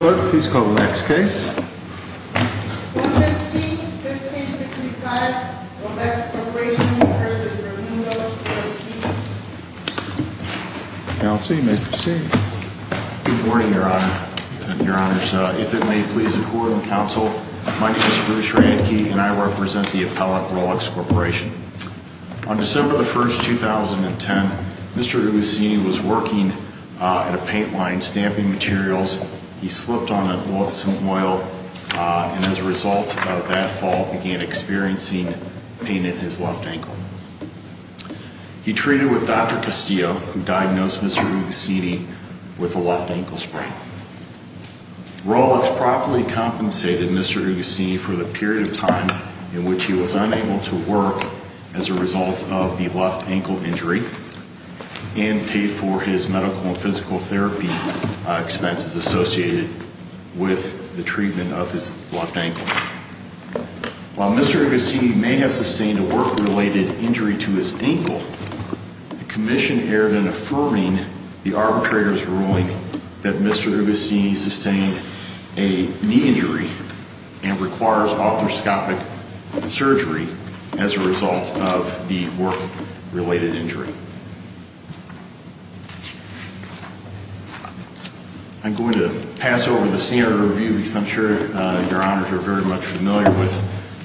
Good morning, Your Honor. If it may please the Court and Counsel, my name is Bruce Randke and I represent the appellate Rolex Corporation. On December 1, 2010, Mr. Guglielmini was working at a paint line stamping materials. He slipped on some oil and as a result of that fall began experiencing pain in his left ankle. He treated with Dr. Castillo, who diagnosed Mr. Guglielmini with a left ankle sprain. Rolex properly compensated Mr. Guglielmini for the period of time in left ankle injury and paid for his medical and physical therapy expenses associated with the treatment of his left ankle. While Mr. Guglielmini may have sustained a work-related injury to his ankle, the Commission erred in affirming the arbitrator's ruling that Mr. Guglielmini sustained a knee injury and requires arthroscopic surgery as a result of the work-related injury. I'm going to pass over the standard review because I'm sure Your Honors are very much familiar with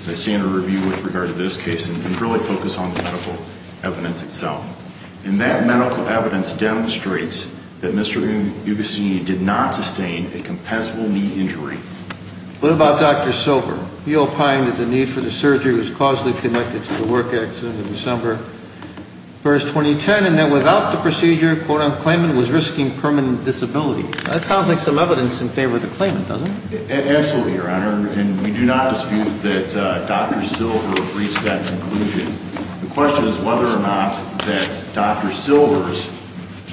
the standard review with regard to this case and really focus on the medical evidence itself. And that medical evidence demonstrates that Mr. Guglielmini did not sustain a compensable knee injury. What about Dr. Silver? He opined that the need for the surgery was causally connected to the work accident in December 1st, 2010, and that without the procedure, quote-unquote, claimant was risking permanent disability. That sounds like some evidence in favor of the claimant, doesn't it? Absolutely, Your Honor. And we do not dispute that Dr. Silver reached that conclusion. The question is whether or not that Dr. Silver's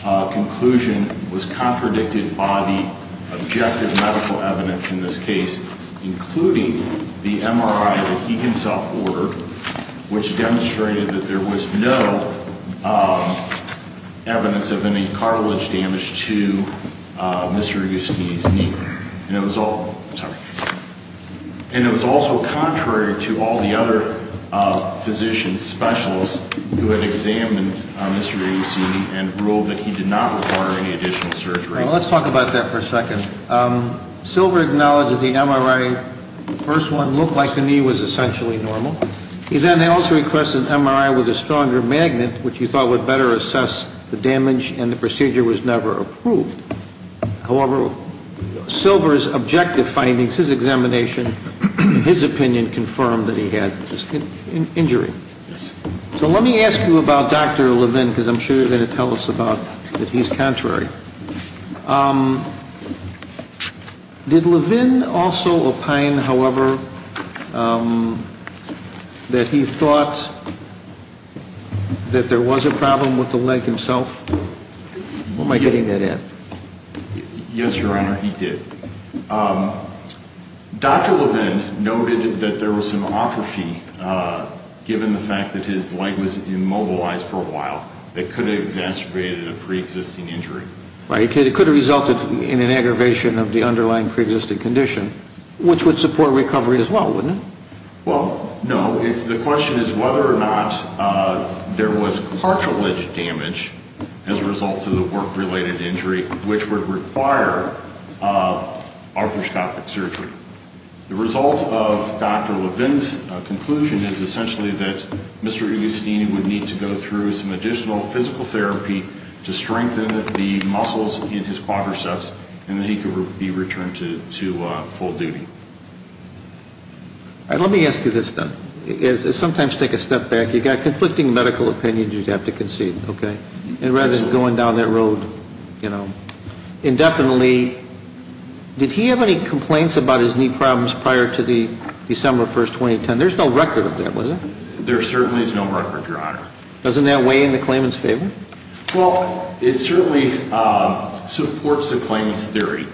conclusion was contradicted by the objective medical evidence in this case, including the MRI that he himself ordered, which demonstrated that there was no evidence of any cartilage damage to Mr. Guglielmini's knee and ruled that he did not require any additional surgery. Let's talk about that for a second. Silver acknowledged that the MRI, the first one, looked like the knee was essentially normal. He then also requested an MRI with a stronger magnet, which he thought would better assess the damage, and the procedure was never approved. However, Silver's objective findings, his examination, his opinion confirmed that he had an injury. So let me ask you about Dr. Levin, because I'm sure you're going to tell us that he's contrary. Did Levin also opine, however, that he thought that there was a problem with the leg himself? Where am I getting that at? Yes, Your Honor, he did. Dr. Levin noted that there was some atrophy given the fact that his leg was immobilized for a while that could have exacerbated a pre-existing injury. Right, it could have resulted in an aggravation of the underlying pre-existing condition, which would support recovery as well, wouldn't it? Well, no. The question is whether or not there was cartilage damage as a result of the work-related injury, which would require arthroscopic surgery. The result of Dr. Levin's conclusion is essentially that Mr. Igustini would need to go through some additional physical therapy to strengthen the muscles in his quadriceps, and then he could be returned to full duty. Let me ask you this, though. Sometimes take a step back. You've got conflicting medical opinions you'd have to concede, okay? And rather than going down that road, you know, indefinitely, did he have any complaints about his knee problems prior to the December 1, 2010? There's no record of that, was there? There certainly is no record, Your Honor. Doesn't that weigh in the claimant's favor? Well, it certainly supports the claimant's theory,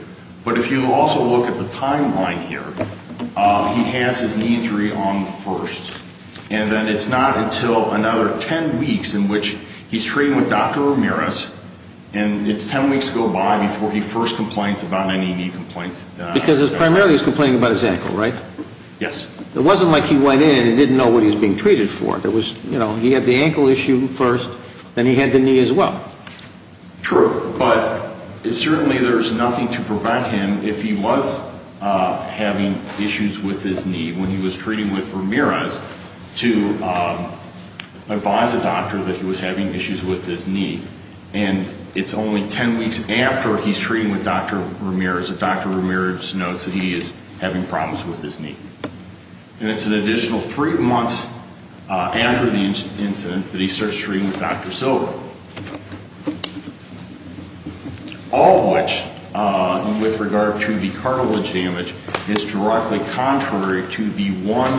but if you also look at the timeline here, he has his knee injury on the 1st, and then it's not until another 10 weeks in which he's treating with Dr. Ramirez, and it's 10 weeks to go by before he first complains about any knee complaints. Because primarily he's complaining about his ankle, right? Yes. It wasn't like he went in and didn't know what he was being treated for. There was, you know, he had the ankle issue first, then he had the knee as well. True. But certainly there's nothing to prevent him if he was having issues with his knee when he was treating with Ramirez to advise a doctor that he was having issues with his knee. And it's only 10 weeks after he's treating with Dr. Ramirez that Dr. Ramirez knows that he is having problems with his knee. And it's an additional three months after the incident that he starts treating with Dr. Silver. All of which, with regard to the cartilage damage, is directly contrary to the one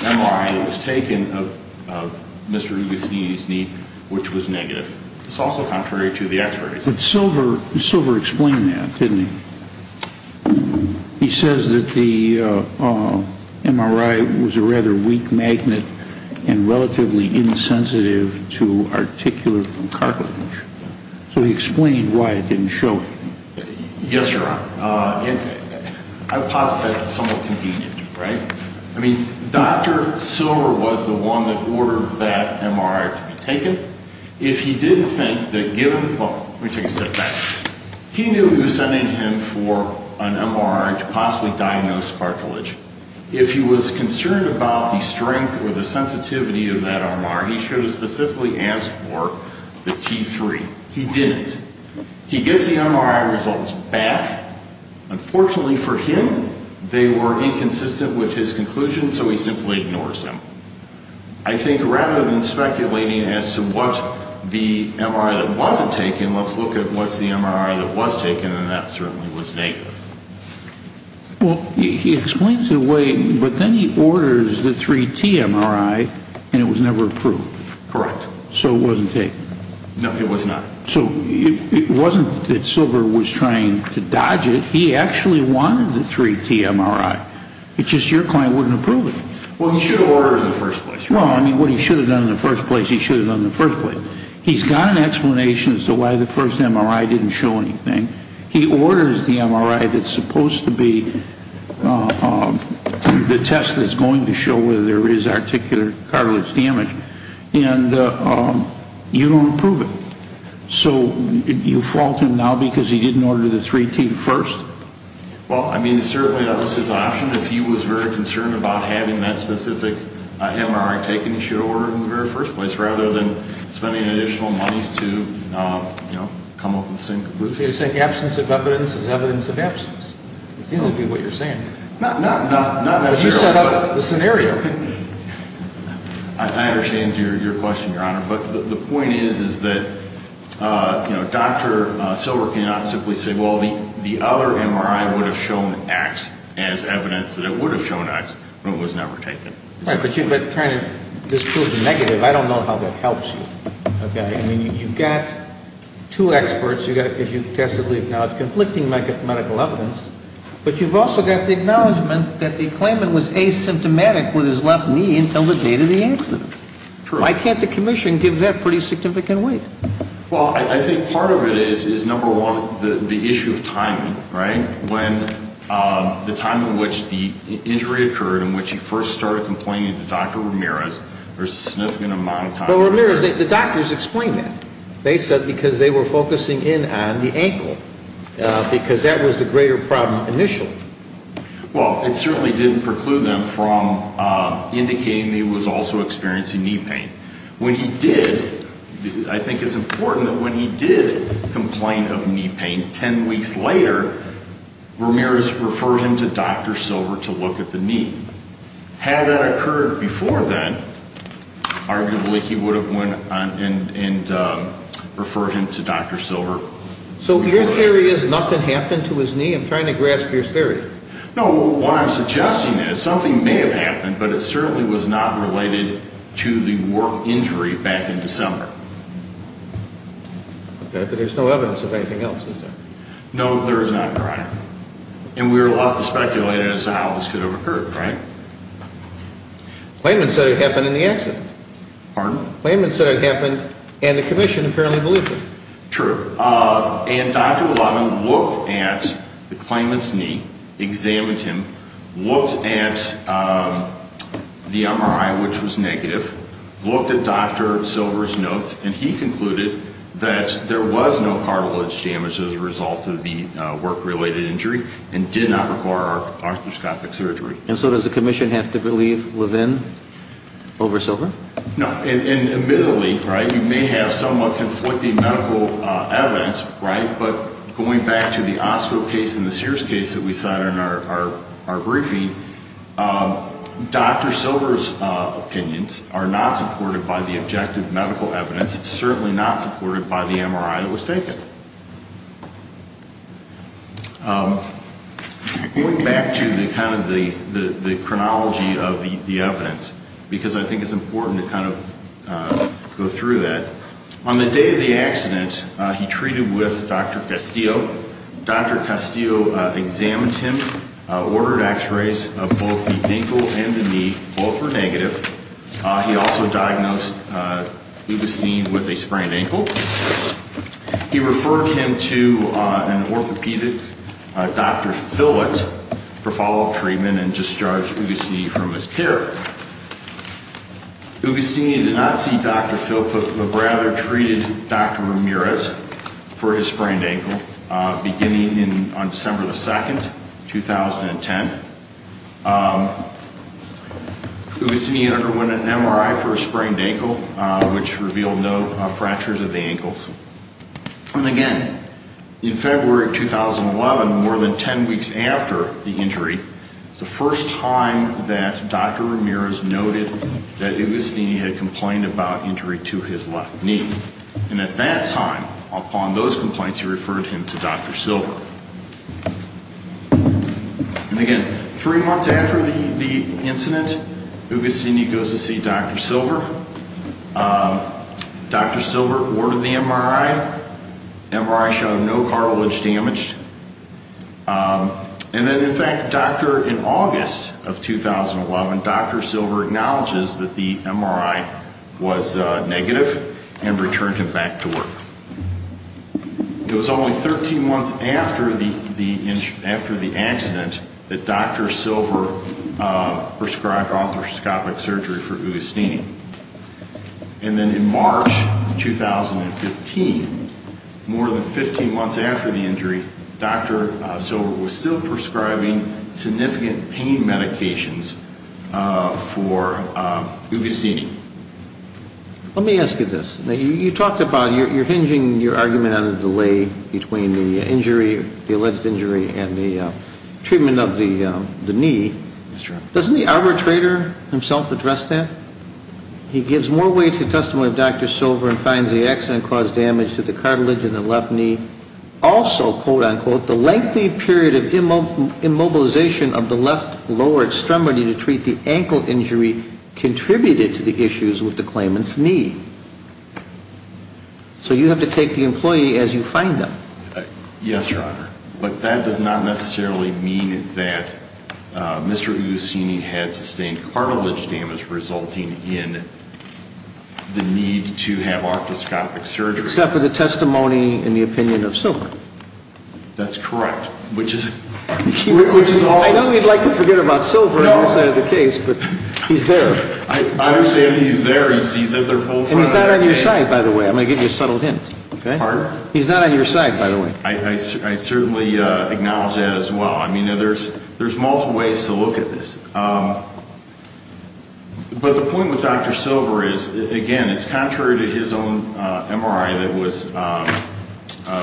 MRI that was taken of Mr. Ugacini's knee, which was negative. It's also contrary to the x-rays. But Silver explained that, didn't he? He says that the MRI was a rather weak magnet and relatively insensitive to articular cartilage. So he explained why it didn't show. Yes, Your Honor. I posit that's somewhat convenient, right? I mean, Dr. Silver was the one that ordered that MRI to be taken. If he did think that given, well, let me take a step back. He knew he was sending him for an MRI to possibly diagnose cartilage. If he was concerned about the strength or the sensitivity of that MRI, he should have specifically asked for the T3. He didn't. He gets the MRI results back. Unfortunately for him, they were inconsistent with his conclusion, so he simply ignores them. I think rather than speculating as to what the MRI that wasn't taken, let's look at what's the MRI that was taken, and that certainly was negative. Well, he explains it away, but then he orders the 3T MRI, and it was never approved. Correct. So it wasn't taken. No, it was not. So it wasn't that Silver was trying to dodge it. He actually wanted the 3T MRI. It's just your client wouldn't approve it. Well, he should have ordered it in the first place. Well, I mean, what he should have done in the first place, he should have done in the first place. He's got an explanation as to why the first MRI didn't show anything. He orders the MRI that's supposed to be the test that's going to show whether there is articular cartilage damage, and you don't approve it. So you fault him now because he didn't order the 3T first? Well, I mean, certainly that was his option. If he was very concerned about having that specific MRI taken, he should have ordered it in the very first place rather than spending additional monies to come up with the same conclusion. So you're saying absence of evidence is evidence of absence? It seems to be what you're saying. Not necessarily. But you set up the scenario. I understand your question, Your Honor. But the point is, is that, you know, Dr. Silver cannot simply say, well, the other MRI would have shown X as evidence that it would have shown X, but it was never taken. Right. But trying to disprove the negative, I don't know how that helps you. Okay? I mean, you've got two experts. You've got, as you've also got the acknowledgment that the claimant was asymptomatic with his left knee until the date of the accident. True. Why can't the commission give that pretty significant weight? Well, I think part of it is, number one, the issue of timing, right? When the time in which the injury occurred, in which he first started complaining to Dr. Ramirez, there's a significant amount of time. Well, Ramirez, the doctors explained that. They said because they were focusing in on the ankle, because that was the greater problem initially. Well, it certainly didn't preclude them from indicating that he was also experiencing knee pain. When he did, I think it's important that when he did complain of knee pain, ten weeks later, Ramirez referred him to Dr. Silver to look at the knee. Had that occurred before then, arguably he would have went and referred him to Dr. Silver. So your theory is nothing happened to his knee? I'm trying to grasp your theory. No, what I'm suggesting is something may have happened, but it certainly was not related to the work injury back in December. Okay, but there's no evidence of anything else, is there? No, there is not, Your Honor. And we're left to speculate as to how this could have occurred, right? Klayman said it happened in the accident. Pardon? Klayman said it happened, and the commission apparently believes it. True. And Dr. Levin looked at the Klayman's knee, examined him, looked at the MRI, which was negative, looked at Dr. Silver's notes, and he concluded that there was no cartilage damage as a result of the work-related injury and did not require arthroscopic surgery. And so does the commission have to believe Levin over Silver? No, and admittedly, right, you may have somewhat conflicting medical evidence, right, but going back to the Osco case and the Sears case that we saw in our briefing, Dr. Silver's opinions are not supported by the objective medical evidence, certainly not supported by the MRI that was taken. Going back to kind of the chronology of the evidence, because I think it's important to kind of go through that, on the day of the accident, he treated with Dr. Castillo. Dr. Castillo examined him, ordered x-rays of both the ankle and the knee. Both were negative. He also diagnosed Ugostini with a sprained ankle. He referred him to an orthopedic, Dr. Fillett, for follow-up treatment and discharged Ugostini from his care. Ugostini did not see Dr. Fillett, but rather treated Dr. Ramirez for his sprained ankle, beginning on December 2, 2010. Ugostini underwent an MRI for a sprained ankle, which revealed no fractures of the ankles. And again, in February of 2011, more than 10 weeks after the injury, the first time that Dr. Ramirez noted that Ugostini had complained about injury to his left knee. And at that time, upon those complaints, he referred him to Dr. Silver. And again, three months after the incident, Ugostini goes to see Dr. Silver. Dr. Silver ordered the MRI. MRI showed no cartilage damage. And then, in fact, in August of 2011, Dr. Silver acknowledges that the MRI was negative and returned him back to work. It was only 13 months after the accident that Dr. Silver prescribed arthroscopic surgery for Ugostini. And then in March of 2015, more than 15 months after the injury, Dr. Silver was still prescribing significant pain medications for Ugostini. Let me ask you this. You talked about you're hinging your argument on a delay between the injury, the alleged injury, and the treatment of the knee. That's right. Doesn't the arbitrator himself address that? He gives more weight to the testimony of Dr. Silver and finds the accident caused damage to the cartilage in the left knee. Also, quote-unquote, the lengthy period of immobilization of the left lower extremity to treat the ankle injury contributed to the issues with the claimant's knee. So you have to take the employee as you find them. Yes, Your Honor. But that does not necessarily mean that Mr. Ugostini had sustained cartilage damage resulting in the need to have arthroscopic surgery. Except for the testimony and the opinion of Silver. That's correct. I know you'd like to forget about Silver on your side of the case, but he's there. I understand he's there. And he's not on your side, by the way. I'm going to give you a subtle hint. Pardon? He's not on your side, by the way. I certainly acknowledge that as well. I mean, there's multiple ways to look at this. But the point with Dr. Silver is, again, it's contrary to his own MRI that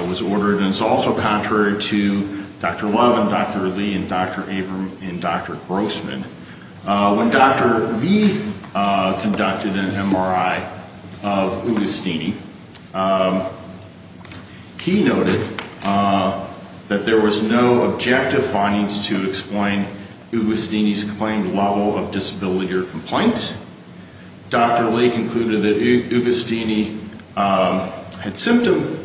was ordered, and it's also contrary to Dr. Love and Dr. Lee and Dr. Abram and Dr. Grossman. When Dr. Lee conducted an MRI of Ugostini, he noted that there was no objective findings to explain Ugostini's claimed level of disability or complaints. Dr. Lee concluded that Ugostini had symptom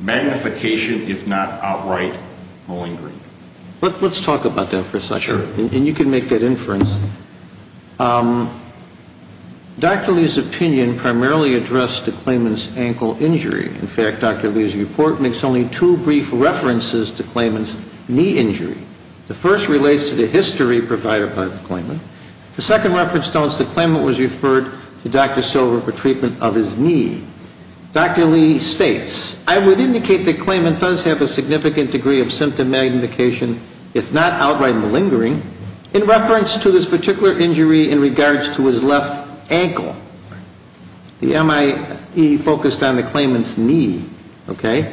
magnification, if not outright, malingering. Let's talk about that for a second. Sure. And you can make that inference. Dr. Lee's opinion primarily addressed the claimant's ankle injury. In fact, Dr. Lee's report makes only two brief references to the claimant's knee injury. The first relates to the history provided by the claimant. The second reference notes the claimant was referred to Dr. Silver for treatment of his knee. Dr. Lee states, I would indicate the claimant does have a significant degree of symptom magnification, if not outright malingering, in reference to this particular injury in regards to his left ankle. The MIE focused on the claimant's knee, okay?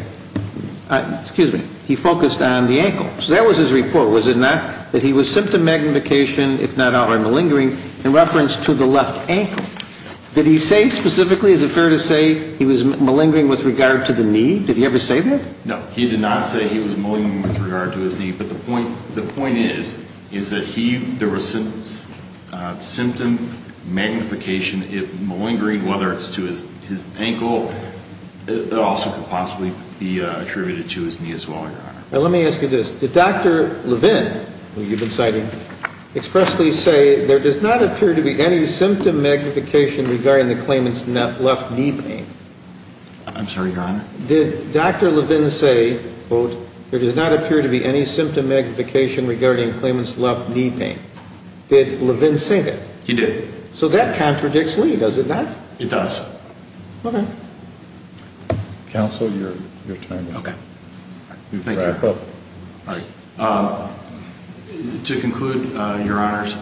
Excuse me. He focused on the ankle. So that was his report, was it not? That he was symptom magnification, if not outright malingering, in reference to the left ankle. Did he say specifically, is it fair to say, he was malingering with regard to the knee? Did he ever say that? No, he did not say he was malingering with regard to his knee. But the point is, is that there was symptom magnification, malingering, whether it's to his ankle, it also could possibly be attributed to his knee as well, Your Honor. Let me ask you this. Did Dr. Levin, who you've been citing, expressly say, there does not appear to be any symptom magnification regarding the claimant's left knee pain? I'm sorry, Your Honor? Did Dr. Levin say, quote, there does not appear to be any symptom magnification regarding the claimant's left knee pain? Did Levin say that? He did. So that contradicts Lee, does it not? It does. Okay. Counsel, your time is up. Okay. Thank you. Go ahead. All right. To conclude, Your Honors,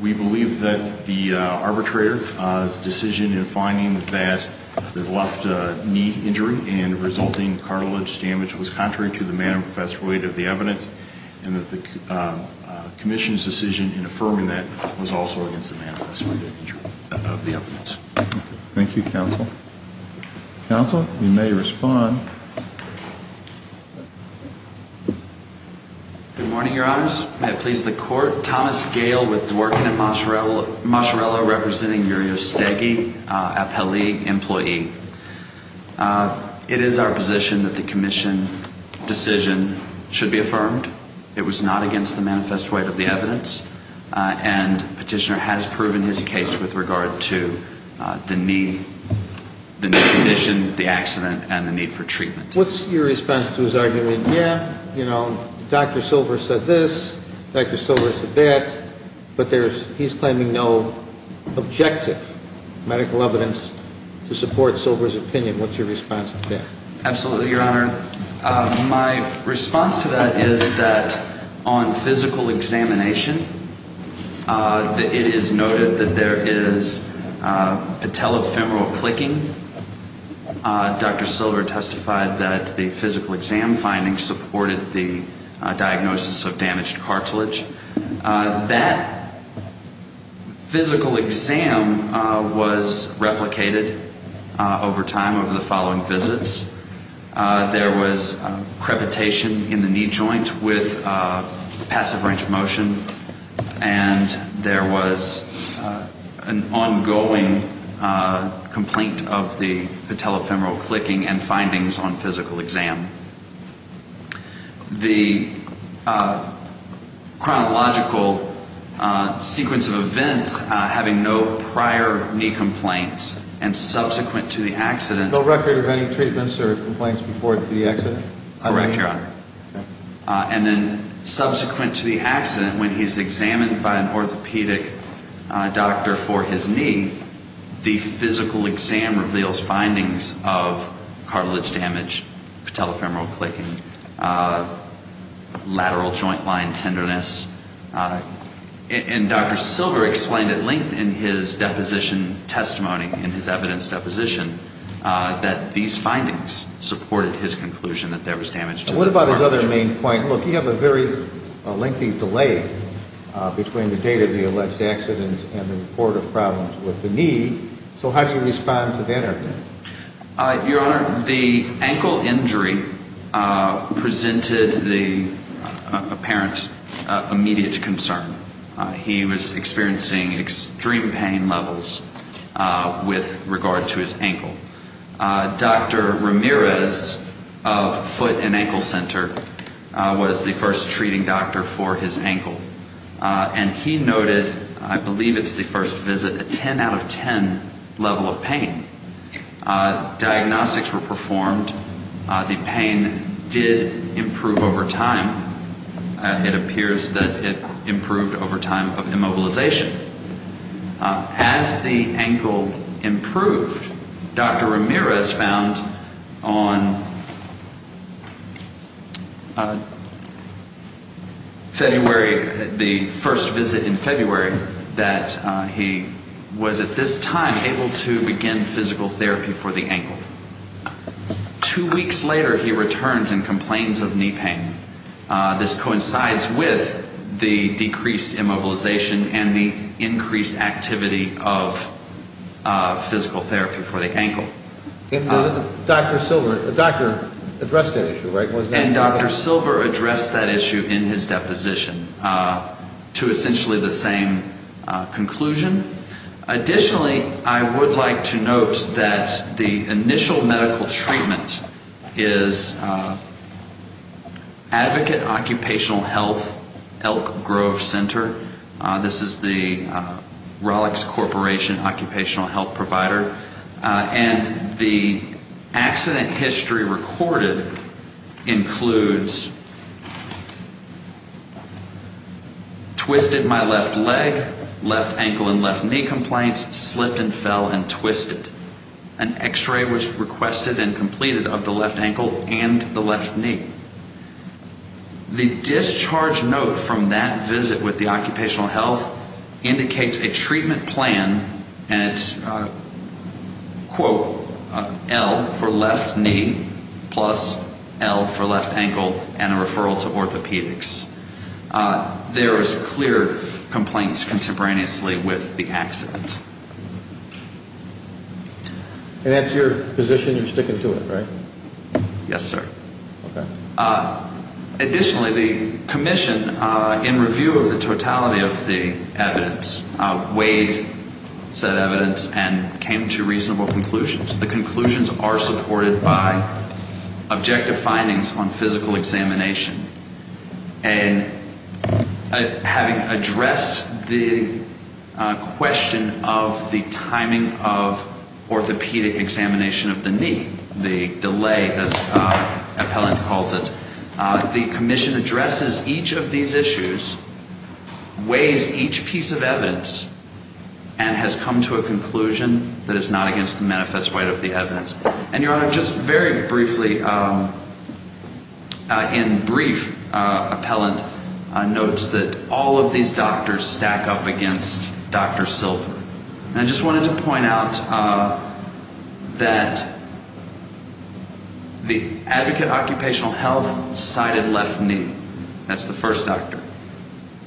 we believe that the arbitrator's decision in finding that the left knee injury and resulting cartilage damage was contrary to the manifest weight of the evidence and that the commission's decision in affirming that was also against the manifest weight of the evidence. Thank you, counsel. Counsel, you may respond. Good morning, Your Honors. May it please the Court. Thomas Gale with Dworkin and Mascarello, representing Yuri Ostegi, a Pelig employee. It is our position that the commission decision should be affirmed. It was not against the manifest weight of the evidence, and Petitioner has proven his case with regard to the knee condition, the accident, and the need for treatment. What's your response to his argument? Yeah, you know, Dr. Silver said this, Dr. Silver said that, but he's claiming no objective medical evidence to support Silver's opinion. What's your response to that? Absolutely, Your Honor. My response to that is that on physical examination, it is noted that there is patellofemoral clicking. Dr. Silver testified that the physical exam findings supported the diagnosis of damaged cartilage. That physical exam was replicated over time, over the following visits. There was a crevitation in the knee joint with a passive range of motion, and there was an ongoing complaint of the patellofemoral clicking and findings on physical exam. The chronological sequence of events having no prior knee complaints and subsequent to the accident... No record of any treatments or complaints before the accident? Correct, Your Honor. Okay. And then subsequent to the accident, when he's examined by an orthopedic doctor for his knee, the physical exam reveals findings of cartilage damage, patellofemoral clicking, lateral joint line tenderness. And Dr. Silver explained at length in his deposition testimony, in his evidence deposition, that these findings supported his conclusion that there was damage to the cartilage. And what about his other main point? Look, you have a very lengthy delay between the date of the alleged accident and the report of problems with the knee. So how do you respond to that update? Your Honor, the ankle injury presented the apparent immediate concern. He was experiencing extreme pain levels with regard to his ankle. Dr. Ramirez of Foot and Ankle Center was the first treating doctor for his ankle. And he noted, I believe it's the first visit, a 10 out of 10 level of pain. Diagnostics were performed. The pain did improve over time. It appears that it improved over time of immobilization. As the ankle improved, Dr. Ramirez found on February, the first visit in February, that he was at this time able to begin physical therapy for the ankle. Two weeks later, he returns and complains of knee pain. This coincides with the decreased immobilization and the increased activity of physical therapy for the ankle. And Dr. Silver addressed that issue, right? And Dr. Silver addressed that issue in his deposition to essentially the same conclusion. Additionally, I would like to note that the initial medical treatment is Advocate Occupational Health, Elk Grove Center. This is the Rolex Corporation Occupational Health Provider. And the accident history recorded includes twisted my left leg, left ankle and left knee complaints, slipped and fell and twisted. An x-ray was requested and completed of the left ankle and the left knee. The discharge note from that visit with the occupational health indicates a treatment plan and it's, quote, L for left knee plus L for left ankle and a referral to orthopedics. There is clear complaints contemporaneously with the accident. And that's your position? You're sticking to it, right? Yes, sir. Okay. Additionally, the commission, in review of the totality of the evidence, weighed said evidence and came to reasonable conclusions. The conclusions are supported by objective findings on physical examination. And having addressed the question of the timing of orthopedic examination of the knee, the delay, as Appellant calls it, the commission addresses each of these issues, weighs each piece of evidence, and has come to a conclusion that is not against the manifest weight of the evidence. And, Your Honor, just very briefly, in brief, Appellant notes that all of these doctors stack up against Dr. Silver. And I just wanted to point out that the advocate of occupational health cited left knee. That's the first doctor.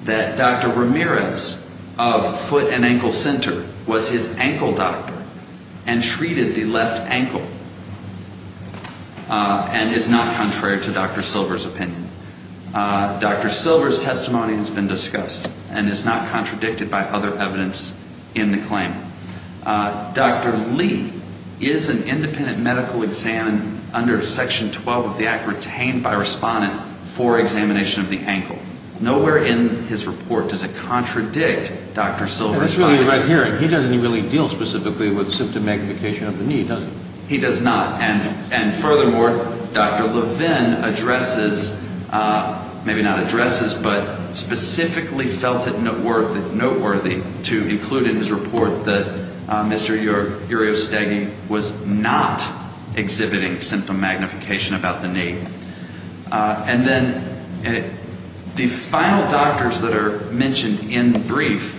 That Dr. Ramirez of foot and ankle center was his ankle doctor and treated the left ankle and is not contrary to Dr. Silver's opinion. Dr. Silver's testimony has been discussed and is not contradicted by other evidence in the claim. Dr. Lee is an independent medical examiner under Section 12 of the Act retained by a respondent for examination of the ankle. Nowhere in his report does it contradict Dr. Silver's findings. He doesn't really deal specifically with symptom magnification of the knee, does he? He does not. And furthermore, Dr. Levin addresses, maybe not addresses, but specifically felt it noteworthy to include in his report that Mr. Uriostegui was not exhibiting symptom magnification about the knee. And then the final doctors that are mentioned in brief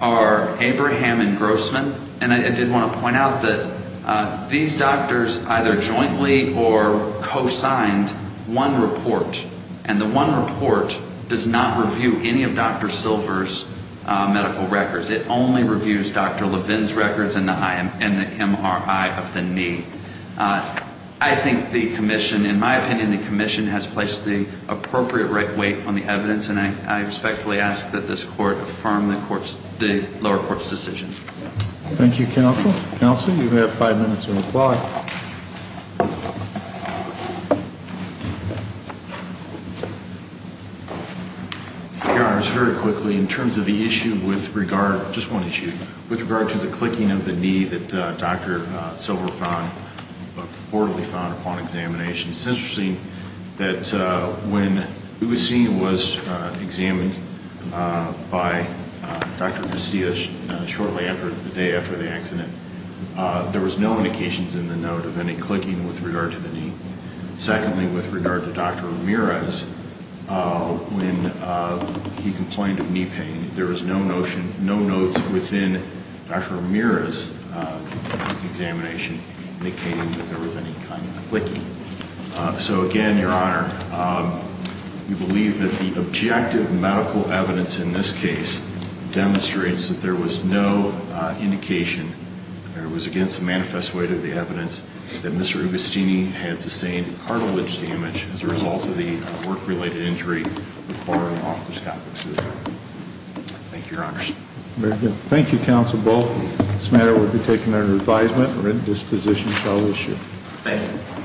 are Abraham and Grossman. And I did want to point out that these doctors either jointly or co-signed one report. And the one report does not review any of Dr. Silver's medical records. It only reviews Dr. Levin's records and the MRI of the knee. I think the commission, in my opinion, the commission has placed the appropriate right weight on the evidence. And I respectfully ask that this court affirm the lower court's decision. Thank you, counsel. Counsel, you have five minutes to reply. Your Honor, just very quickly, in terms of the issue with regard, just one issue, with regard to the clicking of the knee that Dr. Silver found, reportedly found upon examination. It's interesting that when we were seeing it was examined by Dr. Garcia shortly after, the day after the accident, there was no indications in the note of any clicking with regard to the knee. Secondly, with regard to Dr. Ramirez, when he complained of knee pain, there was no notion, no notes within Dr. Ramirez's examination indicating that there was any kind of clicking. So, again, Your Honor, we believe that the objective medical evidence in this case demonstrates that there was no indication, that it was against the manifest weight of the evidence, that Mr. Agostini had sustained cartilage damage as a result of the work-related injury requiring orthoscopic surgery. Thank you, Your Honor. Very good. Thank you, Counsel Bull. This matter will be taken under advisement. Written disposition shall be issued. Thank you.